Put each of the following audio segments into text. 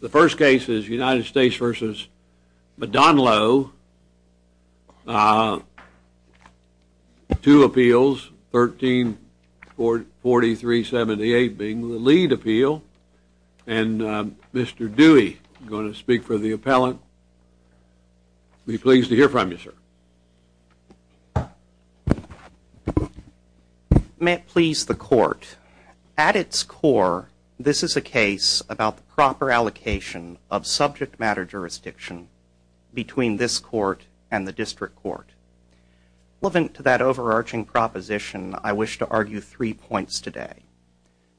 The first case is United States v. Modanlo, two appeals, 13-43-78 being the lead appeal, and Mr. Dewey is going to speak for the appellant. Be pleased to hear from you, sir. May it please the court, at its core, this is a case about the proper allocation of subject matter jurisdiction between this court and the district court. Relevant to that overarching proposition, I wish to argue three points today.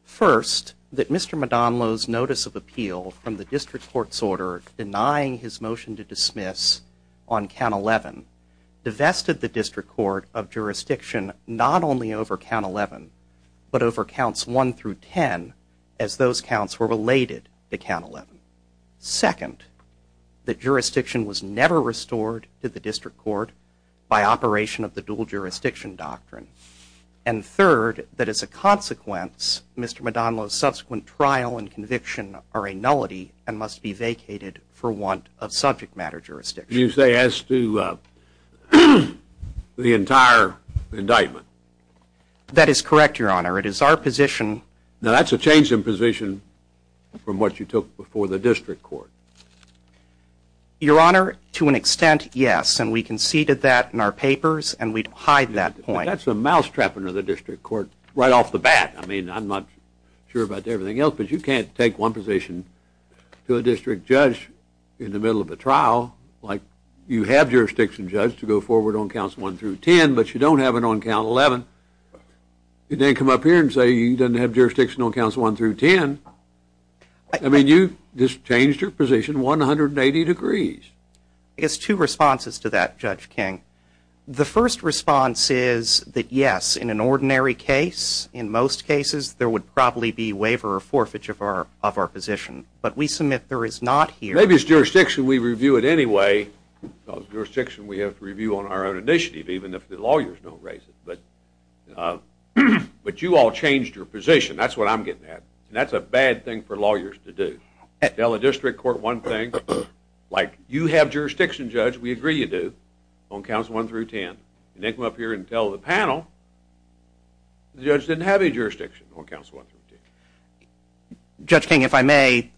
First, that Mr. Modanlo's notice of appeal from the district court's order denying his motion to dismiss on count 11 divested the district court of jurisdiction not only over count 11, but over counts 1 through 10, as those counts were related to count 11. Second, that jurisdiction was never restored to the district court by operation of the dual jurisdiction doctrine. And third, that as a consequence, Mr. Modanlo's subsequent trial and conviction are a nullity and must be vacated for want of subject matter jurisdiction. You say as to the entire indictment? That is correct, your honor. It is our position. Now that's a change in position from what you took before the district court. Your honor, to an extent, yes, and we conceded that in our papers, and we hide that point. That's a mousetrap under the district court right off the bat. I mean, I'm not sure about everything else, but you can't take one position to a district judge in the middle of a trial. Like, you have jurisdiction, judge, to go forward on counts 1 through 10, but you don't have it on count 11. You didn't come up here and say you didn't have jurisdiction on counts 1 through 10. I mean, you just changed your position 180 degrees. I guess two responses to that, Judge King. The first response is that yes, in an ordinary case, in most cases, there would probably be waiver or forfeiture of our position. But we submit there is not here. Maybe it's jurisdiction, we review it anyway. It's jurisdiction we have to review on our own initiative, even if the lawyers don't raise it. But you all changed your position. That's what I'm getting at, and that's a bad thing for lawyers to do. Tell a district court one thing. Like, you have jurisdiction, judge, we agree you do, on counts 1 through 10. You didn't come up here and tell the panel the judge didn't have any jurisdiction on counts 1 through 10. Judge King, if I may,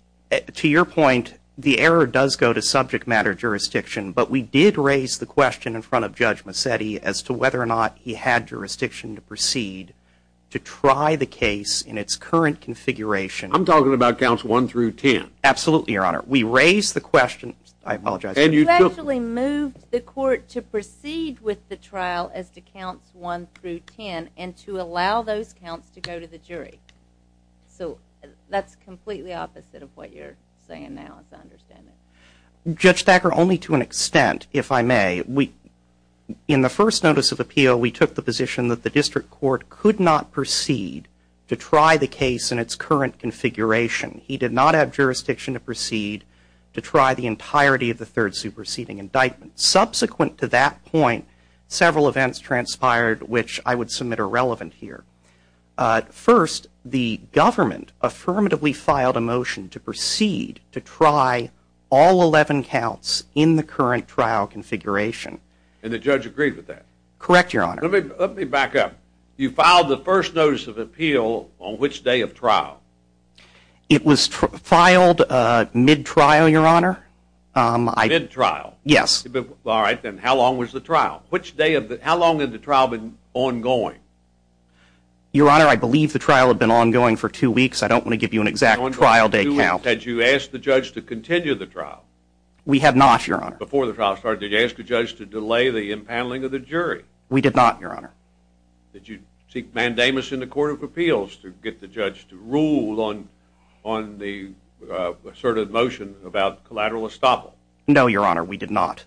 to your point, the error does go to subject matter jurisdiction, but we did raise the question in front of Judge Massetti as to whether or not he had jurisdiction to proceed to try the case in its current configuration. I'm talking about counts 1 through 10. Absolutely, Your Honor. We raised the question. I apologize. You actually moved the court to proceed with the trial as to counts 1 through 10 and to allow those counts to go to the jury. So that's completely opposite of what you're saying now, as I understand it. Judge Thacker, only to an extent, if I may. In the first notice of appeal, we took the position that the district court could not proceed to try the case in its current configuration. He did not have jurisdiction to proceed to try the entirety of the third superseding indictment. Subsequent to that point, several events transpired which I would submit are relevant here. First, the government affirmatively filed a motion to proceed to try all 11 counts in the current trial configuration. And the judge agreed with that? Correct, Your Honor. Let me back up. You filed the first notice of appeal on which day of trial? It was filed mid-trial, Your Honor. Mid-trial? Yes. All right, then how long was the trial? How long had the trial been ongoing? Your Honor, I believe the trial had been ongoing for two weeks. I don't want to give you an exact trial day count. Had you asked the judge to continue the trial? We had not, Your Honor. Before the trial started, did you ask the judge to delay the impaneling of the jury? We did not, Your Honor. Did you seek mandamus in the Court of Appeals to get the judge to rule on the asserted motion about collateral estoppel? No, Your Honor, we did not.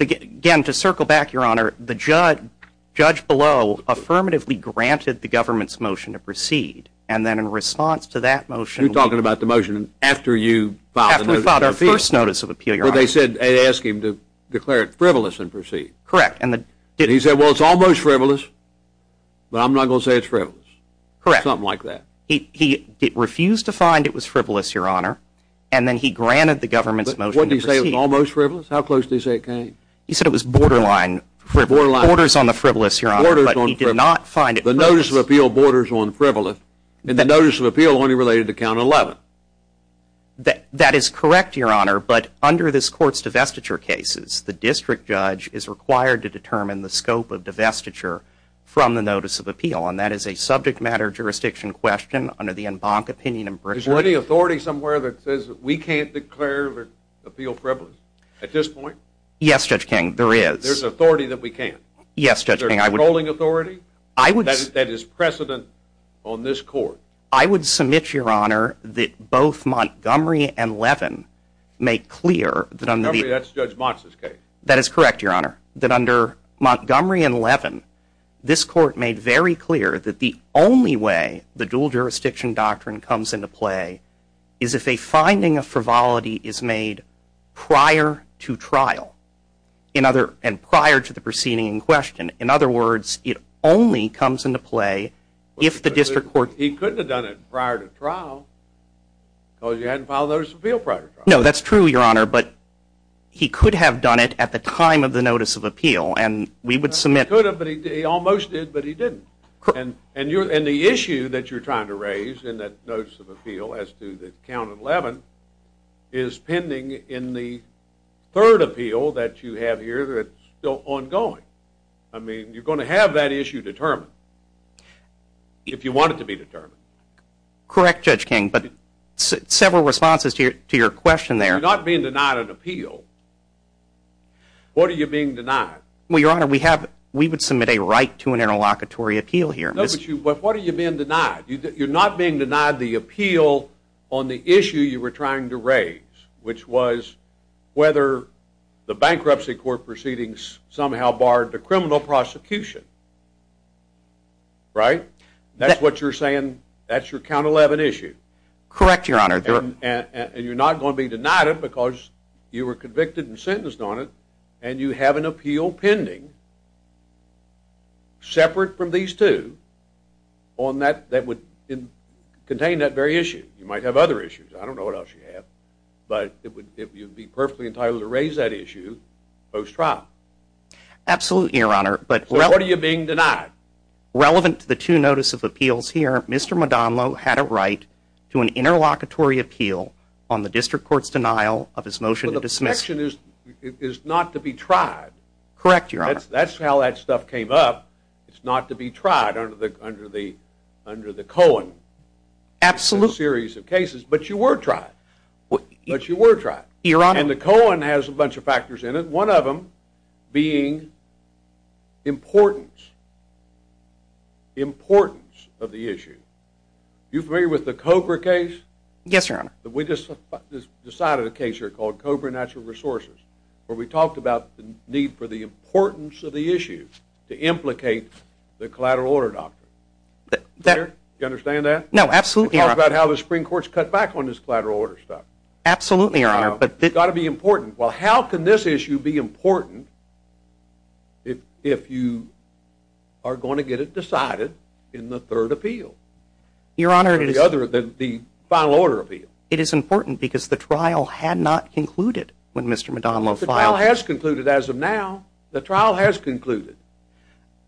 Again, to circle back, Your Honor, the judge below affirmatively granted the government's motion to proceed. And then in response to that motion... You're talking about the motion after you filed the notice of appeal? After we filed our first notice of appeal, Your Honor. But they said, they asked him to declare it frivolous and proceed. Correct. And he said, well, it's almost frivolous, but I'm not going to say it's frivolous. Correct. Something like that. He refused to find it was frivolous, Your Honor. And then he granted the government's motion to proceed. But what did he say was almost frivolous? How close did he say it came? He said it was borderline frivolous. Borderline. Borders on the frivolous, Your Honor. Borders on frivolous. But he did not find it frivolous. The notice of appeal borders on frivolous. And the notice of appeal only related to count 11. That is correct, Your Honor, but under this Court's divestiture cases, the district judge is required to determine the scope of divestiture from the notice of appeal. And that is a subject matter jurisdiction question under the en banc opinion in Britain. Is there any authority somewhere that says we can't declare appeal frivolous at this point? Yes, Judge King. There is. There's authority that we can't. Yes, Judge King. Is there a controlling authority that is precedent on this Court? I would submit, Your Honor, that both Montgomery and Levin make clear that under the- Montgomery, that's Judge Motz's case. That is correct, Your Honor, that under Montgomery and Levin, this Court made very clear that the only way the dual jurisdiction doctrine comes into play is if a finding of frivolity is made prior to trial and prior to the proceeding in question. In other words, it only comes into play if the district court- He couldn't have done it prior to trial because he hadn't filed a notice of appeal prior to trial. No, that's true, Your Honor, but he could have done it at the time of the notice of appeal. And we would submit- He could have, but he almost did, but he didn't. And the issue that you're trying to raise in that notice of appeal as to the count of Levin is pending in the third appeal that you have here that's still ongoing. I mean, you're going to have that issue determined if you want it to be determined. Correct, Judge King, but several responses to your question there- You're not being denied an appeal. What are you being denied? Well, Your Honor, we would submit a right to an interlocutory appeal here. No, but what are you being denied? You're not being denied the appeal on the issue you were trying to raise, which was whether the bankruptcy court proceedings somehow barred the criminal prosecution. Right? That's what you're saying? That's your count of Levin issue? Correct, Your Honor. And you're not going to be denied it because you were convicted and sentenced on it and you have an appeal pending separate from these two that would contain that very issue. You might have other issues. I don't know what else you have, but you'd be perfectly entitled to raise that issue post-trial. Absolutely, Your Honor, but- So what are you being denied? Relevant to the two notice of appeals here, Mr. Madonlo had a right to an interlocutory appeal on the district court's denial of his motion to dismiss. But the objection is not to be tried. Correct, Your Honor. That's how that stuff came up. It's not to be tried under the Cohen series of cases, but you were tried. But you were tried. Your Honor- And the Cohen has a bunch of factors in it, one of them being importance. The importance of the issue. You're familiar with the Cobra case? Yes, Your Honor. We just decided a case here called Cobra Natural Resources where we talked about the need for the importance of the issue to implicate the collateral order doctrine. You understand that? No, absolutely, Your Honor. We talked about how the Supreme Court's cut back on this collateral order stuff. Absolutely, Your Honor, but- It's got to be important. Well, how can this issue be important if you are going to get it decided in the third appeal? Your Honor- The final order appeal. It is important because the trial had not concluded when Mr. Madonlo filed. The trial has concluded as of now. The trial has concluded.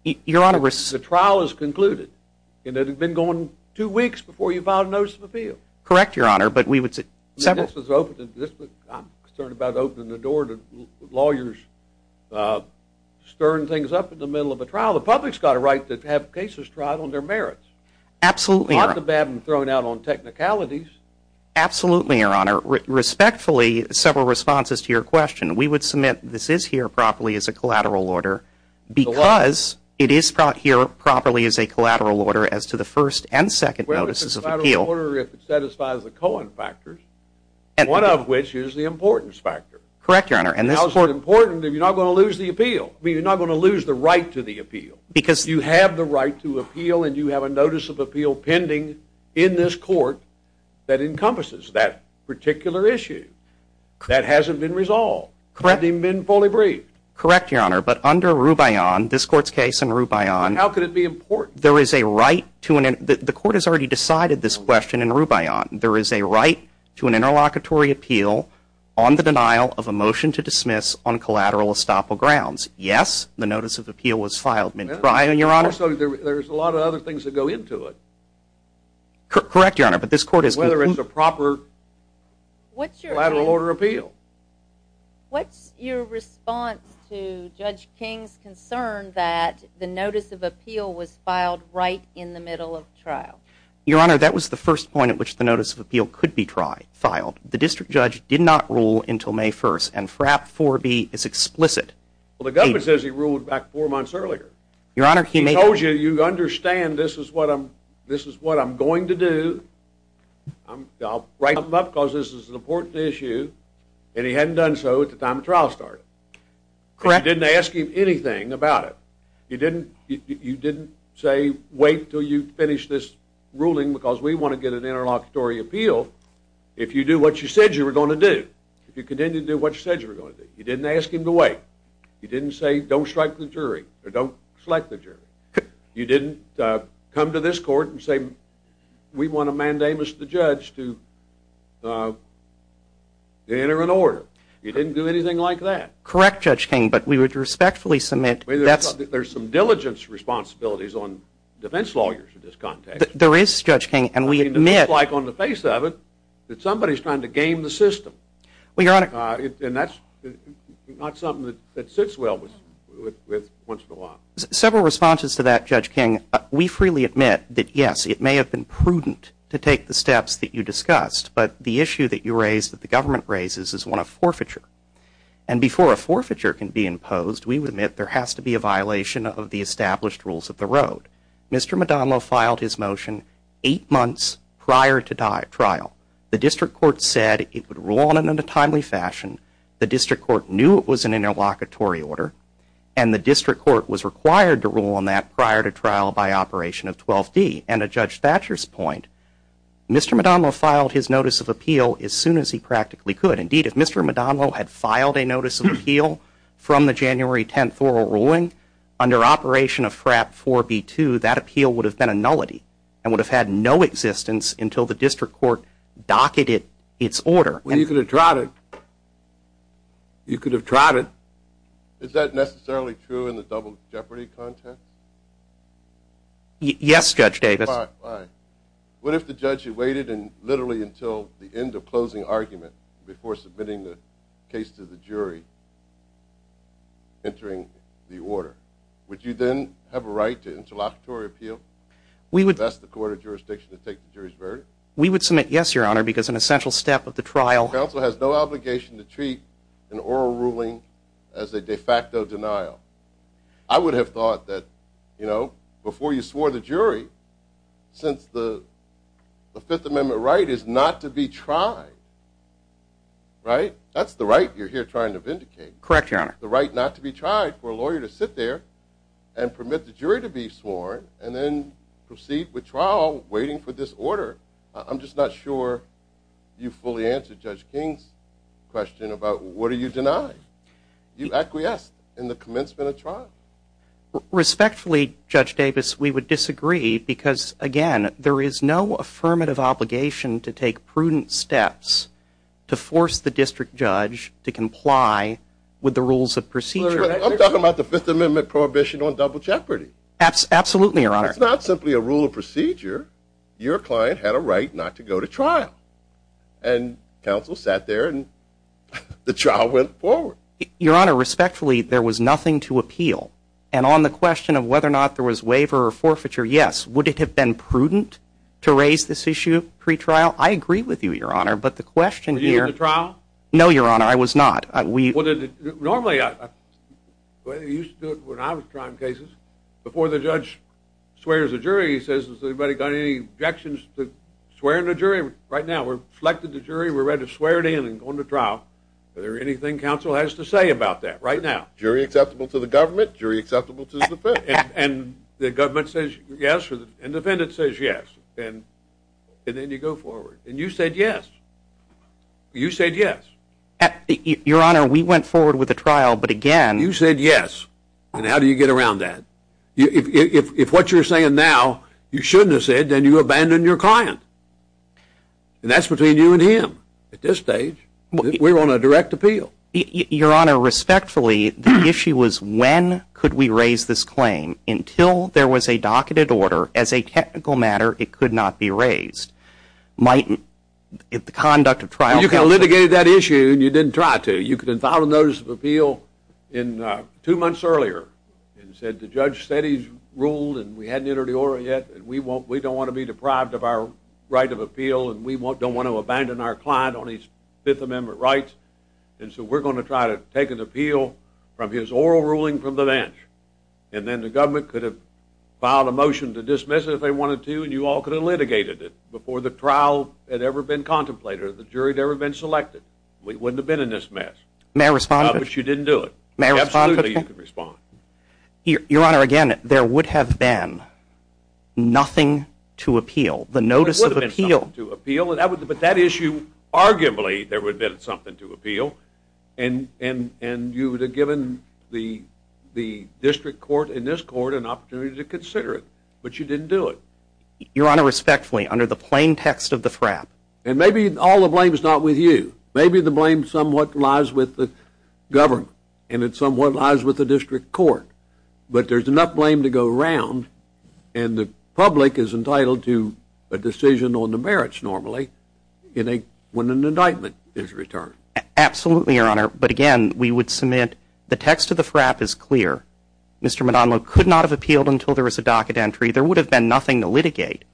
Your Honor- The trial has concluded. It had been going two weeks before you filed a notice of appeal. Correct, Your Honor, but we would- I'm concerned about opening the door to lawyers stirring things up in the middle of a trial. The public's got a right to have cases tried on their merits. Absolutely. Not to have them thrown out on technicalities. Absolutely, Your Honor. Respectfully, several responses to your question. We would submit this is here properly as a collateral order because it is brought here properly as a collateral order as to the first and second notices of appeal. If it satisfies the Cohen factors, one of which is the importance factor. Correct, Your Honor, and this- How is it important if you're not going to lose the appeal? I mean, you're not going to lose the right to the appeal. Because- You have the right to appeal and you have a notice of appeal pending in this court that encompasses that particular issue. That hasn't been resolved. Correct. It hasn't even been fully briefed. Correct, Your Honor, but under Rubion, this court's case in Rubion- How could it be important? The court has already decided this question in Rubion. There is a right to an interlocutory appeal on the denial of a motion to dismiss on collateral estoppel grounds. Yes, the notice of appeal was filed. There's a lot of other things that go into it. Correct, Your Honor, but this court is- Whether it's a proper collateral order appeal. What's your response to Judge King's concern that the notice of appeal was filed right in the middle of trial? Your Honor, that was the first point at which the notice of appeal could be filed. The district judge did not rule until May 1st, and FRAP 4B is explicit. Well, the government says he ruled back four months earlier. Your Honor, he may- He told you, you understand this is what I'm going to do. I'll write him up, because this is an important issue, and he hadn't done so at the time the trial started. Correct. You didn't ask him anything about it. You didn't say, wait until you finish this ruling, because we want to get an interlocutory appeal, if you do what you said you were going to do, if you continue to do what you said you were going to do. You didn't ask him to wait. You didn't say, don't strike the jury, or don't select the jury. You didn't come to this court and say, we want to mandate Mr. Judge to enter an order. You didn't do anything like that. Correct, Judge King, but we would respectfully submit- There's some diligence responsibilities on defense lawyers in this context. There is, Judge King, and we admit- It looks like on the face of it that somebody's trying to game the system. Your Honor- And that's not something that sits well with once in a while. Several responses to that, Judge King. We freely admit that, yes, it may have been prudent to take the steps that you discussed, but the issue that you raised, that the government raises, is one of forfeiture. And before a forfeiture can be imposed, we admit there has to be a violation of the established rules of the road. Mr. Madonlo filed his motion eight months prior to trial. The district court said it would rule on it in a timely fashion. The district court knew it was an interlocutory order, and the district court was required to rule on that prior to trial by Operation of 12D. And to Judge Thatcher's point, Mr. Madonlo filed his notice of appeal as soon as he practically could. Indeed, if Mr. Madonlo had filed a notice of appeal from the January 10th oral ruling, under Operation of FRAP 4B2, that appeal would have been a nullity and would have had no existence until the district court docketed its order. Well, you could have trotted. You could have trotted. Is that necessarily true in the double jeopardy context? Yes, Judge Davis. Fine, fine. What if the judge had waited literally until the end of closing argument before submitting the case to the jury, entering the order? Would you then have a right to interlocutory appeal? We would— If that's the court of jurisdiction to take the jury's verdict? We would submit yes, Your Honor, because an essential step of the trial— as a de facto denial. I would have thought that, you know, before you swore the jury, since the Fifth Amendment right is not to be tried, right? That's the right you're here trying to vindicate. Correct, Your Honor. The right not to be tried for a lawyer to sit there and permit the jury to be sworn and then proceed with trial waiting for this order. I'm just not sure you fully answered Judge King's question about what are you denying. You acquiesced in the commencement of trial. Respectfully, Judge Davis, we would disagree because, again, there is no affirmative obligation to take prudent steps to force the district judge to comply with the rules of procedure. I'm talking about the Fifth Amendment prohibition on double jeopardy. Absolutely, Your Honor. It's not simply a rule of procedure. Your client had a right not to go to trial. And counsel sat there, and the trial went forward. Your Honor, respectfully, there was nothing to appeal. And on the question of whether or not there was waiver or forfeiture, yes. Would it have been prudent to raise this issue pre-trial? I agree with you, Your Honor, but the question here— Were you in the trial? No, Your Honor, I was not. Normally, the way they used to do it when I was trying cases, before the judge swears a jury, he says, has anybody got any objections to swearing the jury? Right now, we've selected the jury, we're ready to swear it in and go into trial. Is there anything counsel has to say about that right now? Jury acceptable to the government, jury acceptable to the defendant. And the government says yes, and the defendant says yes. And then you go forward. And you said yes. You said yes. Your Honor, we went forward with the trial, but again— You said yes. And how do you get around that? If what you're saying now, you shouldn't have said, then you abandoned your client. And that's between you and him at this stage. We're on a direct appeal. Your Honor, respectfully, the issue was when could we raise this claim? Until there was a docketed order, as a technical matter, it could not be raised. Mightn't the conduct of trial— You could have litigated that issue and you didn't try to. You could have filed a notice of appeal two months earlier and said the judge said he's ruled and we hadn't entered the order yet and we don't want to be deprived of our right of appeal and we don't want to abandon our client on his Fifth Amendment rights, and so we're going to try to take an appeal from his oral ruling from the bench. And then the government could have filed a motion to dismiss it if they wanted to and you all could have litigated it before the trial had ever been contemplated or the jury had ever been selected. We wouldn't have been in this mess. May I respond? No, but you didn't do it. May I respond? Absolutely, you can respond. Your Honor, again, there would have been nothing to appeal. There would have been something to appeal, but that issue arguably there would have been something to appeal and you would have given the district court and this court an opportunity to consider it. But you didn't do it. Your Honor, respectfully, under the plain text of the threat— And maybe all the blame is not with you. Maybe the blame somewhat lies with the government and it somewhat lies with the district court, but there's enough blame to go around and the public is entitled to a decision on the merits normally when an indictment is returned. Absolutely, Your Honor, but again, we would submit the text of the frap is clear. Mr. McDonald could not have appealed until there was a docket entry. There would have been nothing to litigate.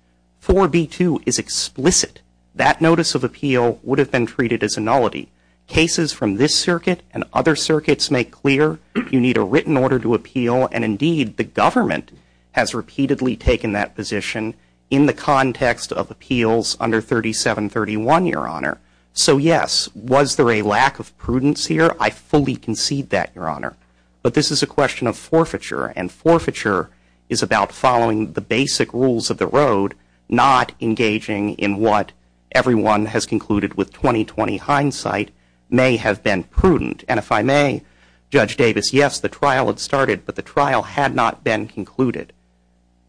4B2 is explicit. That notice of appeal would have been treated as a nullity. Cases from this circuit and other circuits make clear you need a written order to appeal and indeed the government has repeatedly taken that position in the context of appeals under 3731, Your Honor. So, yes, was there a lack of prudence here? I fully concede that, Your Honor. But this is a question of forfeiture and forfeiture is about following the basic rules of the road, not engaging in what everyone has concluded with 20-20 hindsight may have been prudent. And if I may, Judge Davis, yes, the trial had started, but the trial had not been concluded.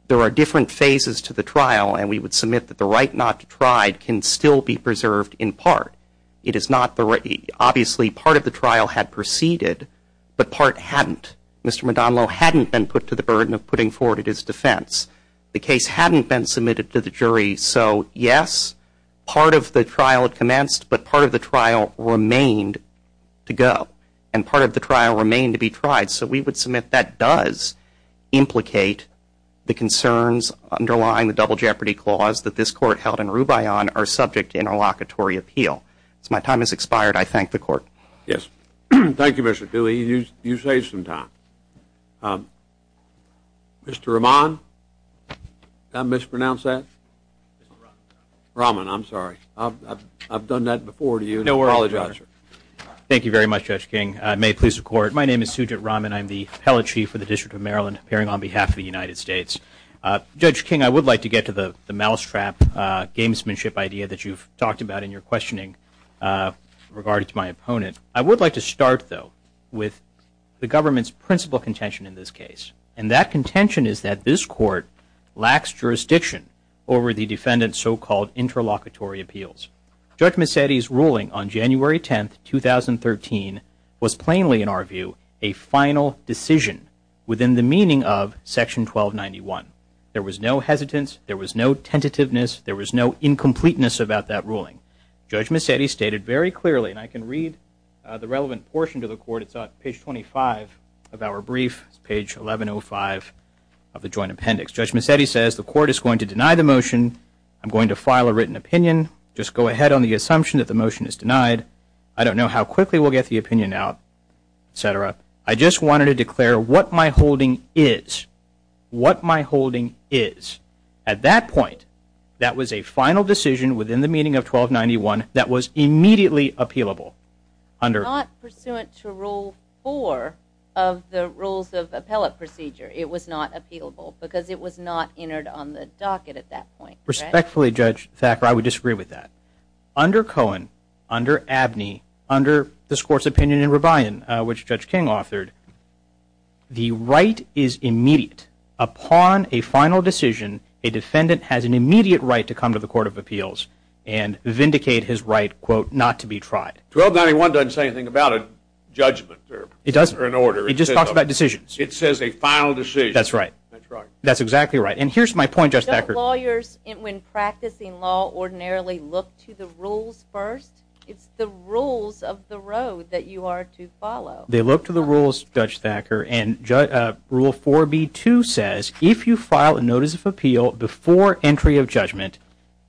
There are different phases to the trial and we would submit that the right not to try can still be preserved in part. Obviously, part of the trial had proceeded, but part hadn't. Mr. Madonlo hadn't been put to the burden of putting forward his defense. The case hadn't been submitted to the jury. So, yes, part of the trial had commenced, but part of the trial remained to go and part of the trial remained to be tried. So we would submit that does implicate the concerns underlying the double jeopardy clause that this Court held in Rubion are subject to interlocutory appeal. As my time has expired, I thank the Court. Yes. Thank you, Mr. Dooley. You saved some time. Mr. Rahman, did I mispronounce that? Mr. Rahman. Rahman, I'm sorry. I've done that before to you. No, we apologize, sir. Thank you very much, Judge King. May it please the Court. My name is Sujit Rahman. I'm the Appellate Chief for the District of Maryland, appearing on behalf of the United States. Judge King, I would like to get to the mousetrap gamesmanship idea that you've talked about in your questioning regarding my opponent. I would like to start, though, with the government's principal contention in this case, and that contention is that this Court lacks jurisdiction over the defendant's so-called interlocutory appeals. Judge Mecedi's ruling on January 10, 2013, was plainly, in our view, a final decision within the meaning of Section 1291. There was no hesitance. There was no tentativeness. There was no incompleteness about that ruling. Judge Mecedi stated very clearly, and I can read the relevant portion to the Court. It's on page 25 of our brief, page 1105 of the joint appendix. Judge Mecedi says the Court is going to deny the motion. I'm going to file a written opinion. Just go ahead on the assumption that the motion is denied. I don't know how quickly we'll get the opinion out, et cetera. I just wanted to declare what my holding is. What my holding is. At that point, that was a final decision within the meaning of 1291 that was immediately appealable. Not pursuant to Rule 4 of the Rules of Appellate Procedure, it was not appealable because it was not entered on the docket at that point. Respectfully, Judge Thacker, I would disagree with that. Under Cohen, under Abney, under this Court's opinion in Revayan, which Judge King authored, the right is immediate. Upon a final decision, a defendant has an immediate right to come to the Court of Appeals and vindicate his right, quote, not to be tried. 1291 doesn't say anything about a judgment or an order. It just talks about decisions. It says a final decision. That's right. That's exactly right. And here's my point, Judge Thacker. Don't lawyers, when practicing law, ordinarily look to the rules first? It's the rules of the road that you are to follow. They look to the rules, Judge Thacker, and Rule 4b-2 says, if you file a notice of appeal before entry of judgment,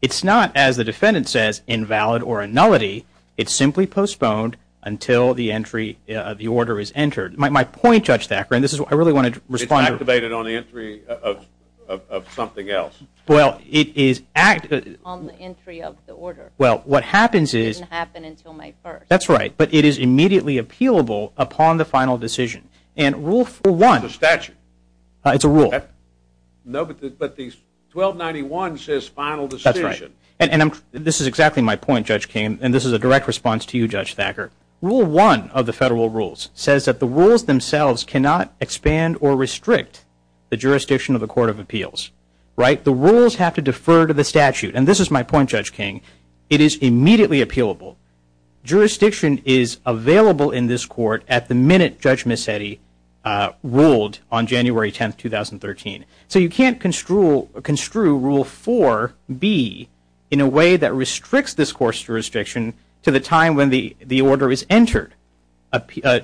it's not, as the defendant says, invalid or a nullity. It's simply postponed until the order is entered. My point, Judge Thacker, and this is what I really wanted to respond to. It's activated on the entry of something else. Well, it is active. On the entry of the order. Well, what happens is. It doesn't happen until May 1st. That's right. But it is immediately appealable upon the final decision. And Rule 1. It's a statute. It's a rule. But 1291 says final decision. That's right. And this is exactly my point, Judge King, and this is a direct response to you, Judge Thacker. Rule 1 of the federal rules says that the rules themselves cannot expand or restrict the jurisdiction of the Court of Appeals, right? The rules have to defer to the statute. And this is my point, Judge King. It is immediately appealable. Jurisdiction is available in this court at the minute Judge Mazzetti ruled on January 10th, 2013. So you can't construe Rule 4B in a way that restricts this court's jurisdiction to the time when the order is entered.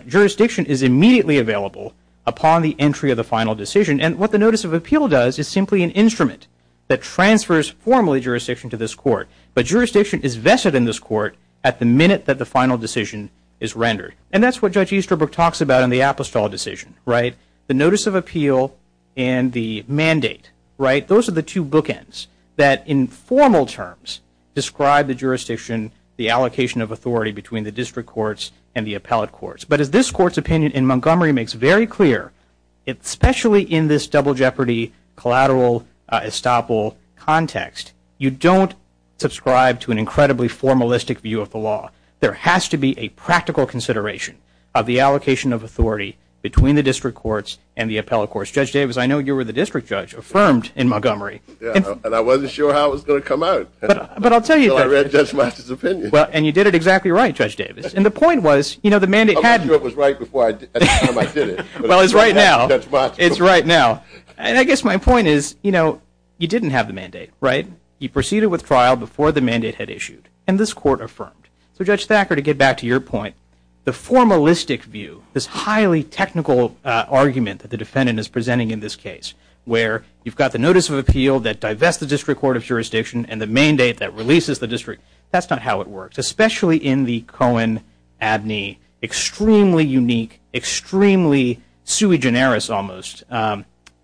Jurisdiction is immediately available upon the entry of the final decision. And what the Notice of Appeal does is simply an instrument that transfers formally jurisdiction to this court. But jurisdiction is vested in this court at the minute that the final decision is rendered. And that's what Judge Easterbrook talks about in the Apostol decision, right? The Notice of Appeal and the mandate, right? Those are the two bookends that, in formal terms, describe the jurisdiction, the allocation of authority between the district courts and the appellate courts. But as this court's opinion in Montgomery makes very clear, especially in this double jeopardy collateral estoppel context, you don't subscribe to an incredibly formalistic view of the law. There has to be a practical consideration of the allocation of authority between the district courts and the appellate courts. Judge Davis, I know you were the district judge affirmed in Montgomery. And I wasn't sure how it was going to come out. But I'll tell you that. So I read Judge Mazzetti's opinion. And you did it exactly right, Judge Davis. And the point was, you know, the mandate had you. That was right before I did it. Well, it's right now. It's right now. And I guess my point is, you know, you didn't have the mandate, right? You proceeded with trial before the mandate had issued. And this court affirmed. So, Judge Thacker, to get back to your point, the formalistic view, this highly technical argument that the defendant is presenting in this case where you've got the Notice of Appeal that divests the district court of jurisdiction and the mandate that releases the district, that's not how it works, especially in the Cohen-Abney extremely unique, extremely sui generis almost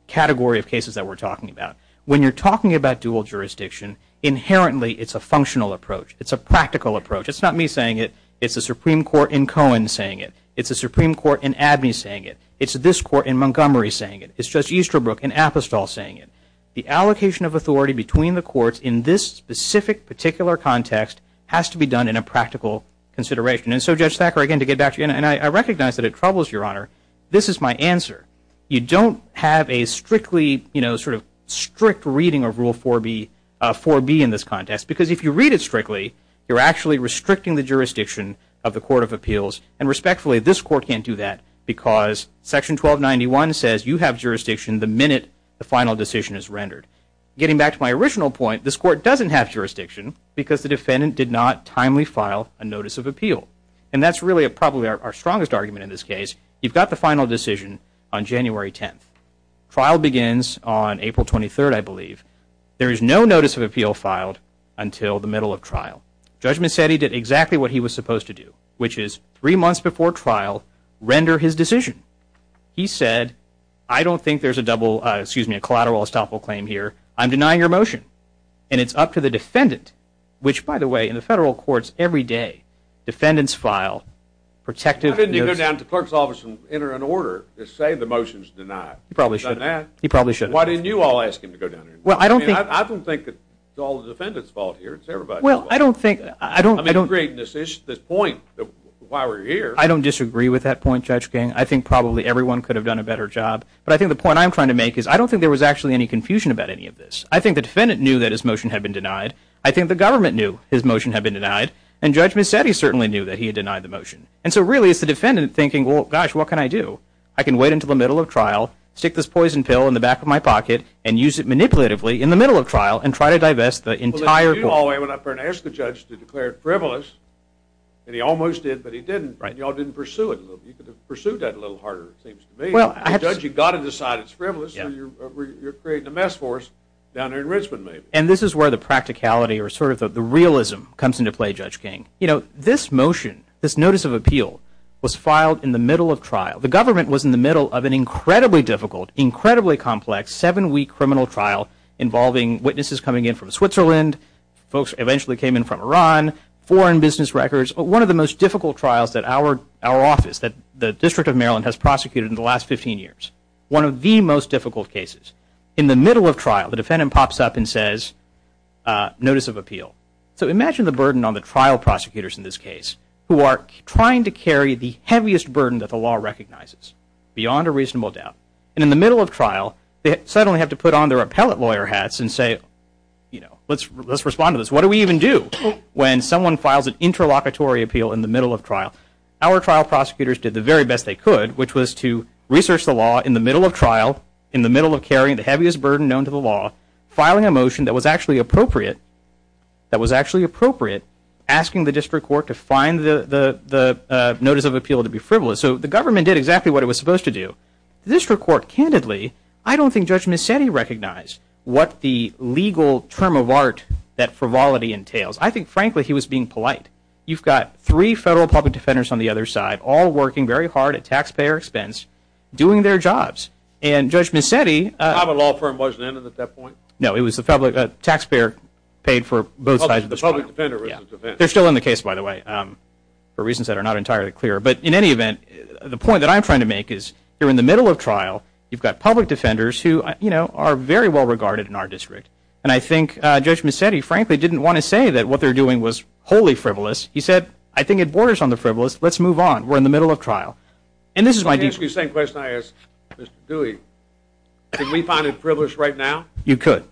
category of cases that we're talking about. When you're talking about dual jurisdiction, inherently it's a functional approach. It's a practical approach. It's not me saying it. It's the Supreme Court in Cohen saying it. It's the Supreme Court in Abney saying it. It's this court in Montgomery saying it. It's Judge Easterbrook in Apostol saying it. The allocation of authority between the courts in this specific particular context has to be done in a practical consideration. And so, Judge Thacker, again, to get back to you, and I recognize that it troubles your honor, this is my answer. You don't have a strictly sort of strict reading of Rule 4B in this context because if you read it strictly, you're actually restricting the jurisdiction of the court of appeals. And respectfully, this court can't do that because Section 1291 says you have jurisdiction the minute the final decision is rendered. Getting back to my original point, this court doesn't have jurisdiction because the defendant did not timely file a notice of appeal. And that's really probably our strongest argument in this case. You've got the final decision on January 10th. Trial begins on April 23rd, I believe. There is no notice of appeal filed until the middle of trial. Judgment said he did exactly what he was supposed to do, which is three months before trial, render his decision. He said, I don't think there's a double, excuse me, And it's up to the defendant, which, by the way, in the federal courts every day, defendants file protective notice. Why didn't you go down to the clerk's office and enter an order to say the motion's denied? You probably should have. You probably should have. Why didn't you all ask him to go down there? Well, I don't think it's all the defendant's fault here. It's everybody's fault. Well, I don't think. I don't agree with this point, why we're here. I don't disagree with that point, Judge King. I think probably everyone could have done a better job. But I think the point I'm trying to make is I don't think there was actually any confusion about any of this. I think the defendant knew that his motion had been denied. I think the government knew his motion had been denied. And Judge Mazzetti certainly knew that he had denied the motion. And so, really, it's the defendant thinking, well, gosh, what can I do? I can wait until the middle of trial, stick this poison pill in the back of my pocket, and use it manipulatively in the middle of trial and try to divest the entire court. Well, if you all went up there and asked the judge to declare it frivolous, and he almost did, but he didn't, and you all didn't pursue it, you could have pursued that a little harder, it seems to me. Well, Judge, you've got to decide it's frivolous, or you're creating a mess for us down there in Richmond, maybe. And this is where the practicality or sort of the realism comes into play, Judge King. You know, this motion, this notice of appeal, was filed in the middle of trial. The government was in the middle of an incredibly difficult, incredibly complex, seven-week criminal trial involving witnesses coming in from Switzerland, folks eventually came in from Iran, foreign business records. One of the most difficult trials that our office, the District of Maryland, has prosecuted in the last 15 years, one of the most difficult cases. In the middle of trial, the defendant pops up and says, notice of appeal. So imagine the burden on the trial prosecutors in this case, who are trying to carry the heaviest burden that the law recognizes, beyond a reasonable doubt. And in the middle of trial, they suddenly have to put on their appellate lawyer hats and say, you know, let's respond to this. What do we even do when someone files an interlocutory appeal in the middle of trial? Our trial prosecutors did the very best they could, which was to research the law in the middle of trial, in the middle of carrying the heaviest burden known to the law, filing a motion that was actually appropriate, that was actually appropriate, asking the district court to find the notice of appeal to be frivolous. So the government did exactly what it was supposed to do. The district court, candidly, I don't think Judge Mazzetti recognized what the legal term of art that frivolity entails. I think, frankly, he was being polite. You've got three federal public defenders on the other side, all working very hard at taxpayer expense, doing their jobs. And Judge Mazzetti – The common law firm wasn't in it at that point? No, it was the public – taxpayer paid for both sides of the – The public defender – They're still in the case, by the way, for reasons that are not entirely clear. But in any event, the point that I'm trying to make is, here in the middle of trial, you've got public defenders who, you know, are very well regarded in our district. And I think Judge Mazzetti, frankly, didn't want to say that what they're doing was wholly frivolous. He said, I think it borders on the frivolous. Let's move on. We're in the middle of trial. And this is why – Can I ask you the same question I asked Mr. Dewey? Can we find it frivolous right now? You could.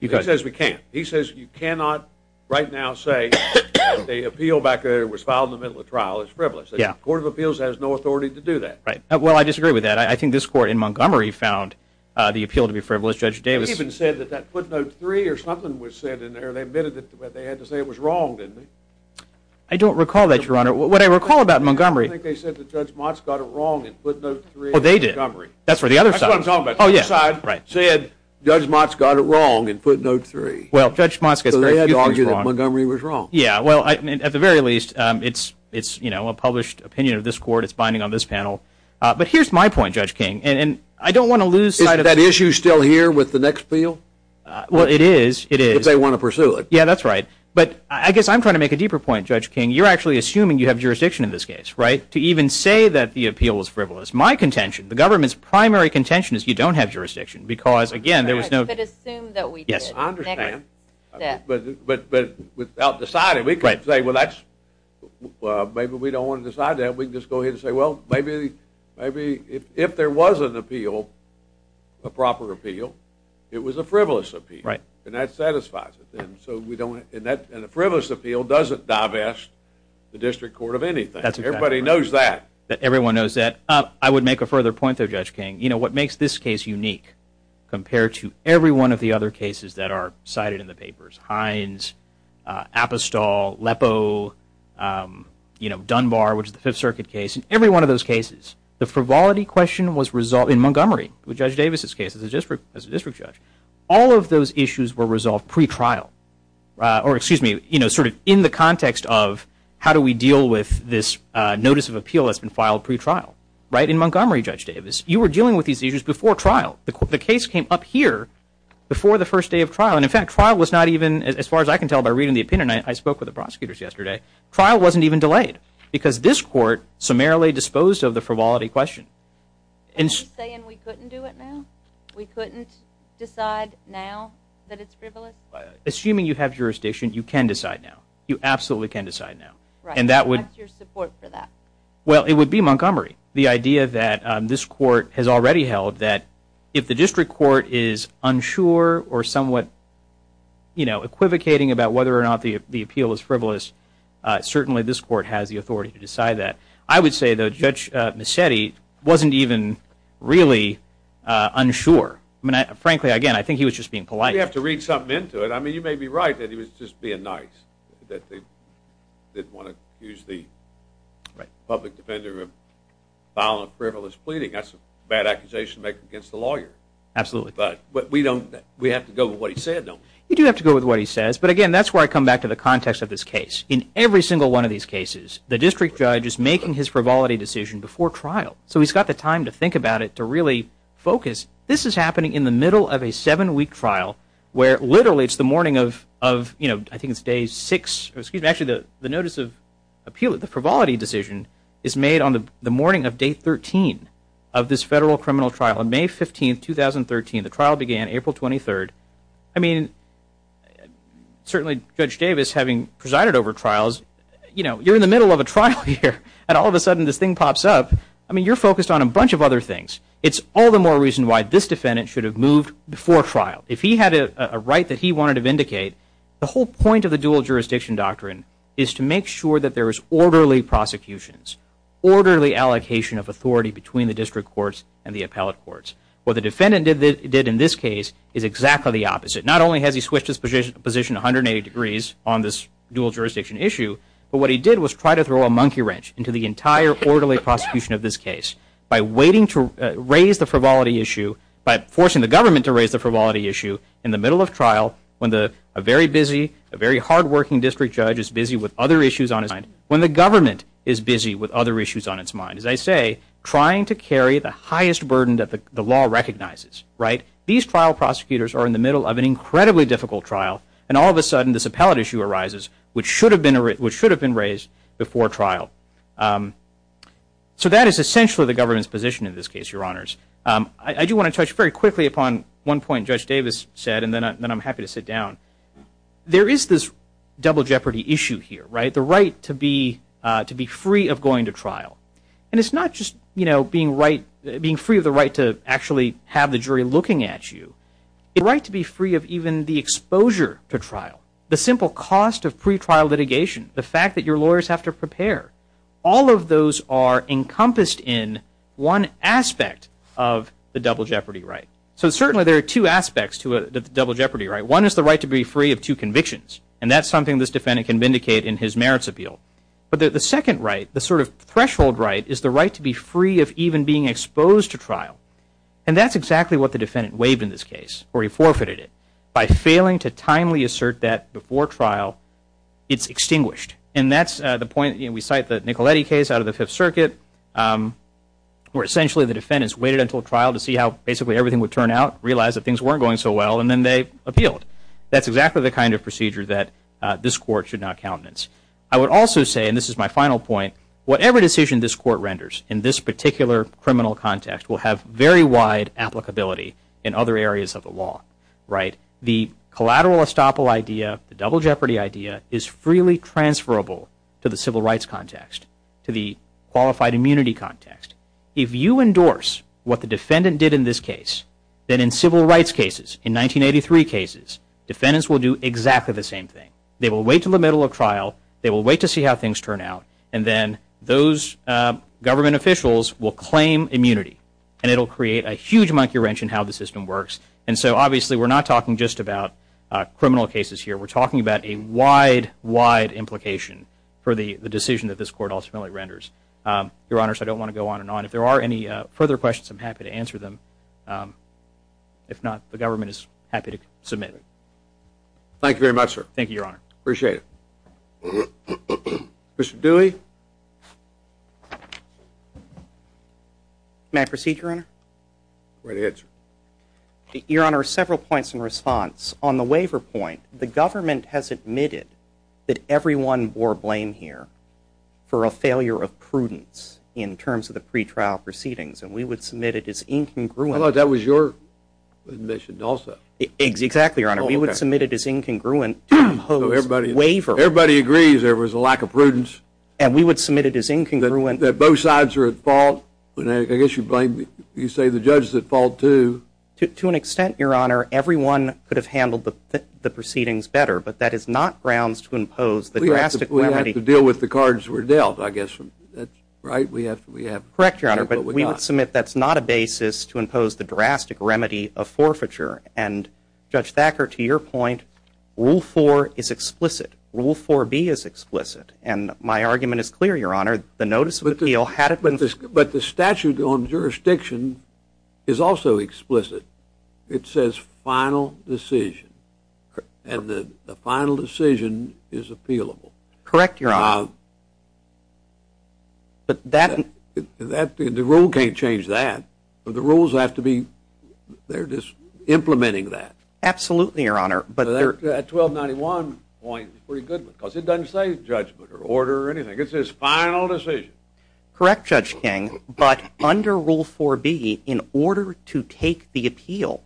He says we can't. He says you cannot right now say that the appeal back there was filed in the middle of trial is frivolous. The Court of Appeals has no authority to do that. Well, I disagree with that. I think this court in Montgomery found the appeal to be frivolous. It even said that that footnote three or something was said in there. They admitted that they had to say it was wrong, didn't they? I don't recall that, Your Honor. What I recall about Montgomery – I think they said that Judge Motz got it wrong in footnote three. Oh, they did. That's for the other side. That's what I'm talking about. Oh, yes. The other side said Judge Motz got it wrong in footnote three. Well, Judge Motz gets very few things wrong. So they had to argue that Montgomery was wrong. Yeah, well, I mean, at the very least, it's, you know, a published opinion of this court. It's binding on this panel. But here's my point, Judge King, and I don't want to lose sight of – Well, it is. It is. If they want to pursue it. Yeah, that's right. But I guess I'm trying to make a deeper point, Judge King. You're actually assuming you have jurisdiction in this case, right, to even say that the appeal was frivolous. My contention, the government's primary contention is you don't have jurisdiction because, again, there was no – I could assume that we did. Yes. I understand. But without deciding, we could say, well, maybe we don't want to decide that. We can just go ahead and say, well, maybe if there was an appeal, a proper appeal, it was a frivolous appeal. Right. And that satisfies it. And so we don't – and a frivolous appeal doesn't divest the district court of anything. That's exactly right. Everybody knows that. Everyone knows that. I would make a further point there, Judge King. You know, what makes this case unique compared to every one of the other cases that are cited in the papers – Hines, Apostol, Lepo, you know, Dunbar, which is the Fifth Circuit case. In every one of those cases, the frivolity question was resolved in Montgomery. With Judge Davis's case as a district judge. All of those issues were resolved pre-trial. Or, excuse me, you know, sort of in the context of how do we deal with this notice of appeal that's been filed pre-trial. Right? In Montgomery, Judge Davis, you were dealing with these issues before trial. The case came up here before the first day of trial. And, in fact, trial was not even – as far as I can tell by reading the opinion, I spoke with the prosecutors yesterday, trial wasn't even delayed because this court summarily disposed of the frivolity question. Are you saying we couldn't do it now? We couldn't decide now that it's frivolous? Assuming you have jurisdiction, you can decide now. You absolutely can decide now. And that would – What's your support for that? Well, it would be Montgomery. The idea that this court has already held that if the district court is unsure or somewhat, you know, equivocating about whether or not the appeal is frivolous, certainly this court has the authority to decide that. I would say, though, Judge Musetti wasn't even really unsure. I mean, frankly, again, I think he was just being polite. You have to read something into it. I mean, you may be right that he was just being nice, that they didn't want to accuse the public defender of violent, frivolous pleading. That's a bad accusation to make against the lawyer. Absolutely. But we don't – we have to go with what he said, don't we? You do have to go with what he says. But, again, that's where I come back to the context of this case. In every single one of these cases, the district judge is making his frivolity decision before trial. So he's got the time to think about it, to really focus. This is happening in the middle of a seven-week trial where literally it's the morning of, you know, I think it's day six. Actually, the notice of appeal, the frivolity decision, is made on the morning of day 13 of this federal criminal trial. On May 15, 2013, the trial began April 23rd. I mean, certainly Judge Davis, having presided over trials, you know, you're in the middle of a trial here, and all of a sudden this thing pops up. I mean, you're focused on a bunch of other things. It's all the more reason why this defendant should have moved before trial. If he had a right that he wanted to vindicate, the whole point of the dual-jurisdiction doctrine is to make sure that there is orderly prosecutions, orderly allocation of authority between the district courts and the appellate courts. What the defendant did in this case is exactly the opposite. Not only has he switched his position 180 degrees on this dual-jurisdiction issue, but what he did was try to throw a monkey wrench into the entire orderly prosecution of this case by waiting to raise the frivolity issue, by forcing the government to raise the frivolity issue in the middle of trial when a very busy, a very hardworking district judge is busy with other issues on his mind, when the government is busy with other issues on its mind. As I say, trying to carry the highest burden that the law recognizes. These trial prosecutors are in the middle of an incredibly difficult trial, and all of a sudden this appellate issue arises, which should have been raised before trial. So that is essentially the government's position in this case, Your Honors. I do want to touch very quickly upon one point Judge Davis said, and then I'm happy to sit down. There is this double jeopardy issue here, the right to be free of going to trial. And it's not just being free of the right to actually have the jury looking at you. It's the right to be free of even the exposure to trial, the simple cost of pretrial litigation, the fact that your lawyers have to prepare. All of those are encompassed in one aspect of the double jeopardy right. So certainly there are two aspects to the double jeopardy right. One is the right to be free of two convictions, and that's something this defendant can vindicate in his merits appeal. But the second right, the sort of threshold right, is the right to be free of even being exposed to trial. And that's exactly what the defendant waived in this case, or he forfeited it, by failing to timely assert that before trial it's extinguished. And that's the point. We cite the Nicoletti case out of the Fifth Circuit, where essentially the defendants waited until trial to see how basically everything would turn out, realize that things weren't going so well, and then they appealed. That's exactly the kind of procedure that this Court should not countenance. I would also say, and this is my final point, whatever decision this Court renders in this particular criminal context will have very wide applicability in other areas of the law. The collateral estoppel idea, the double jeopardy idea, is freely transferable to the civil rights context, to the qualified immunity context. If you endorse what the defendant did in this case, then in civil rights cases, in 1983 cases, defendants will do exactly the same thing. They will wait until the middle of trial. They will wait to see how things turn out. And then those government officials will claim immunity. And it will create a huge monkey wrench in how the system works. And so obviously we're not talking just about criminal cases here. We're talking about a wide, wide implication for the decision that this Court ultimately renders. Your Honors, I don't want to go on and on. If there are any further questions, I'm happy to answer them. If not, the government is happy to submit. Thank you very much, sir. Thank you, Your Honor. Appreciate it. Mr. Dewey? May I proceed, Your Honor? Go ahead. Your Honor, several points in response. On the waiver point, the government has admitted that everyone bore blame here for a failure of prudence in terms of the pretrial proceedings. And we would submit it as incongruent. I thought that was your admission also. Exactly, Your Honor. We would submit it as incongruent to impose waiver. Everybody agrees there was a lack of prudence. And we would submit it as incongruent. That both sides are at fault. I guess you say the judge is at fault, too. To an extent, Your Honor, everyone could have handled the proceedings better. But that is not grounds to impose the drastic remedy. We have to deal with the cards we're dealt, I guess. Right? Correct, Your Honor. But we would submit that's not a basis to impose the drastic remedy of forfeiture. And, Judge Thacker, to your point, Rule 4 is explicit. Rule 4B is explicit. And my argument is clear, Your Honor. The notice of the appeal had it. But the statute on jurisdiction is also explicit. It says final decision. And the final decision is appealable. Correct, Your Honor. But that... The rule can't change that. The rules have to be... They're just implementing that. Absolutely, Your Honor. That 1291 point is pretty good because it doesn't say judgment or order or anything. It says final decision. Correct, Judge King. But under Rule 4B, in order to take the appeal,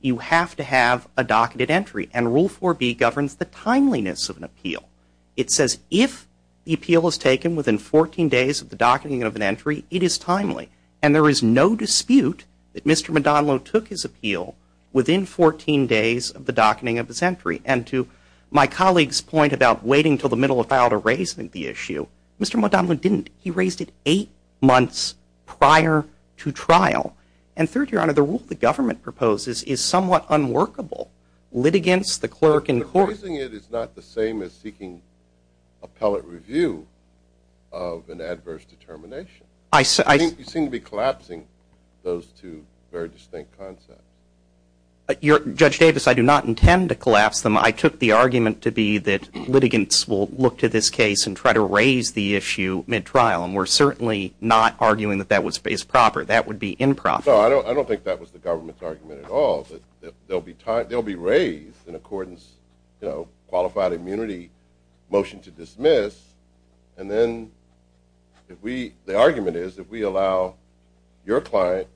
you have to have a docketed entry. And Rule 4B governs the timeliness of an appeal. It says if the appeal is taken within 14 days of the docketing of an entry, it is timely. And there is no dispute that Mr. Modano took his appeal within 14 days of the docketing of his entry. And to my colleague's point about waiting until the middle of trial to raise the issue, Mr. Modano didn't. He raised it eight months prior to trial. And third, Your Honor, the rule the government proposes is somewhat unworkable. Litigants, the clerk, and court... But raising it is not the same as seeking appellate review of an adverse determination. I... You seem to be collapsing those two very distinct concepts. Judge Davis, I do not intend to collapse them. I took the argument to be that litigants will look to this case and try to raise the issue mid-trial. And we're certainly not arguing that that was based proper. That would be improper. No, I don't think that was the government's argument at all. They'll be raised in accordance, you know, qualified immunity motion to dismiss. And then if we... The argument is if we allow your client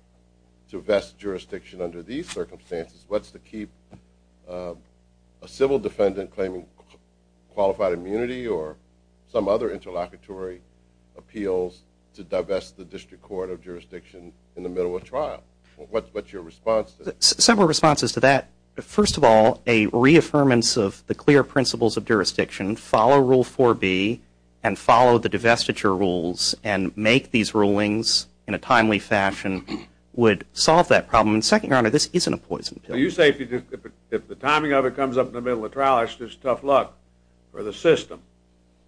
to vest jurisdiction under these circumstances, what's the key... A civil defendant claiming qualified immunity or some other interlocutory appeals to divest the District Court of Jurisdiction in the middle of trial. What's your response to that? Several responses to that. First of all, a reaffirmance of the clear principles of jurisdiction, follow Rule 4B, and follow the divestiture rules, and make these rulings in a timely fashion would solve that problem. And second, Your Honor, this isn't a poison pill. You say if the timing of it comes up in the middle of trial, it's just tough luck for the system.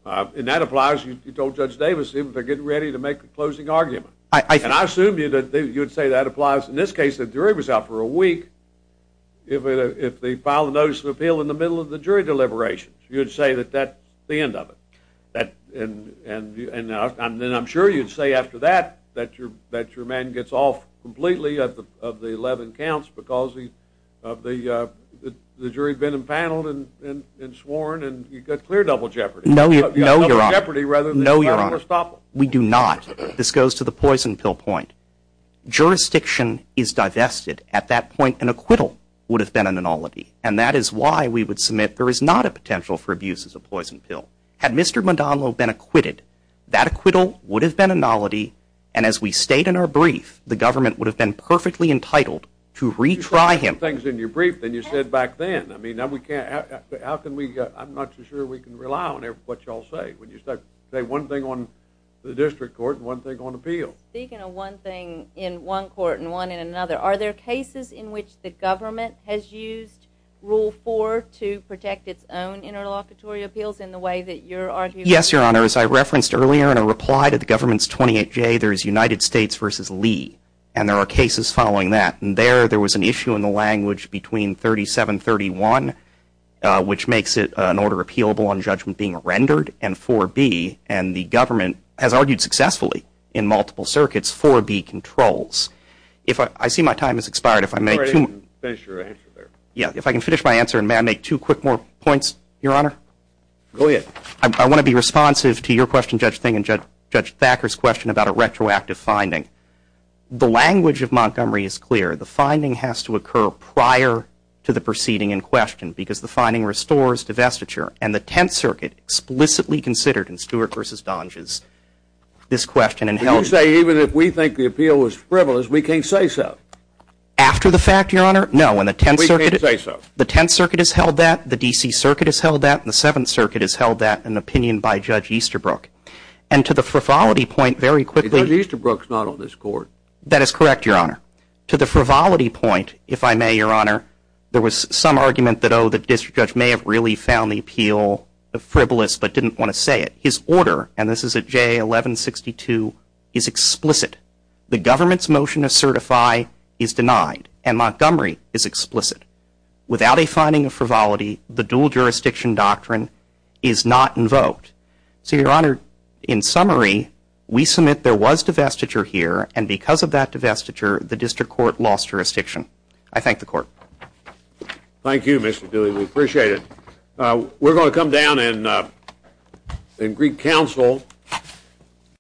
And that applies, you told Judge Davis, even if they're getting ready to make the closing argument. And I assume you'd say that applies in this case. The jury was out for a week. If they file a notice of appeal in the middle of the jury deliberations, you'd say that that's the end of it. And I'm sure you'd say after that that your man gets off completely of the 11 counts because the jury's been empaneled and sworn, and you've got clear double jeopardy. No, Your Honor. No, Your Honor. No, Your Honor. We do not. This goes to the poison pill point. Jurisdiction is divested. At that point, an acquittal would have been an anology. And that is why we would submit there is not a potential for abuse as a poison pill. Had Mr. Madonlo been acquitted, that acquittal would have been an analogy, and as we state in our brief, the government would have been perfectly entitled to retry him. You said better things in your brief than you said back then. I mean, now we can't, how can we, I'm not too sure we can rely on what you all say when you say one thing on the district court and one thing on appeal. Speaking of one thing in one court and one in another, are there cases in which the government has used Rule 4 to protect its own interlocutory appeals in the way that you're arguing? Yes, Your Honor. As I referenced earlier in a reply to the government's 28J, there is United States v. Lee, and there are cases following that. And there, there was an issue in the language between 3731, which makes it an order appealable on judgment being rendered, and 4B, and the government has argued successfully in multiple circuits for B controls. I see my time has expired. If I may, two more. Finish your answer there. Yes, if I can finish my answer, and may I make two quick more points, Your Honor? Go ahead. I want to be responsive to your question, Judge Fink, and Judge Thacker's question about a retroactive finding. The language of Montgomery is clear. The finding has to occur prior to the proceeding in question because the finding restores divestiture, and the Tenth Circuit explicitly considered in Stewart v. Donges this question. Did you say even if we think the appeal was frivolous, we can't say so? After the fact, Your Honor? No, in the Tenth Circuit. We can't say so. The Tenth Circuit has held that. The D.C. Circuit has held that. The Seventh Circuit has held that, an opinion by Judge Easterbrook. And to the frivolity point, very quickly. Judge Easterbrook's not on this Court. That is correct, Your Honor. To the frivolity point, if I may, Your Honor, there was some argument that, oh, the district judge may have really found the appeal frivolous but didn't want to say it. His order, and this is at J1162, is explicit. The government's motion to certify is denied, and Montgomery is explicit. Without a finding of frivolity, the dual-jurisdiction doctrine is not invoked. So, Your Honor, in summary, we submit there was divestiture here, and because of that divestiture, the district court lost jurisdiction. I thank the Court. Thank you, Mr. Dooley. We appreciate it. We're going to come down in Greek Council.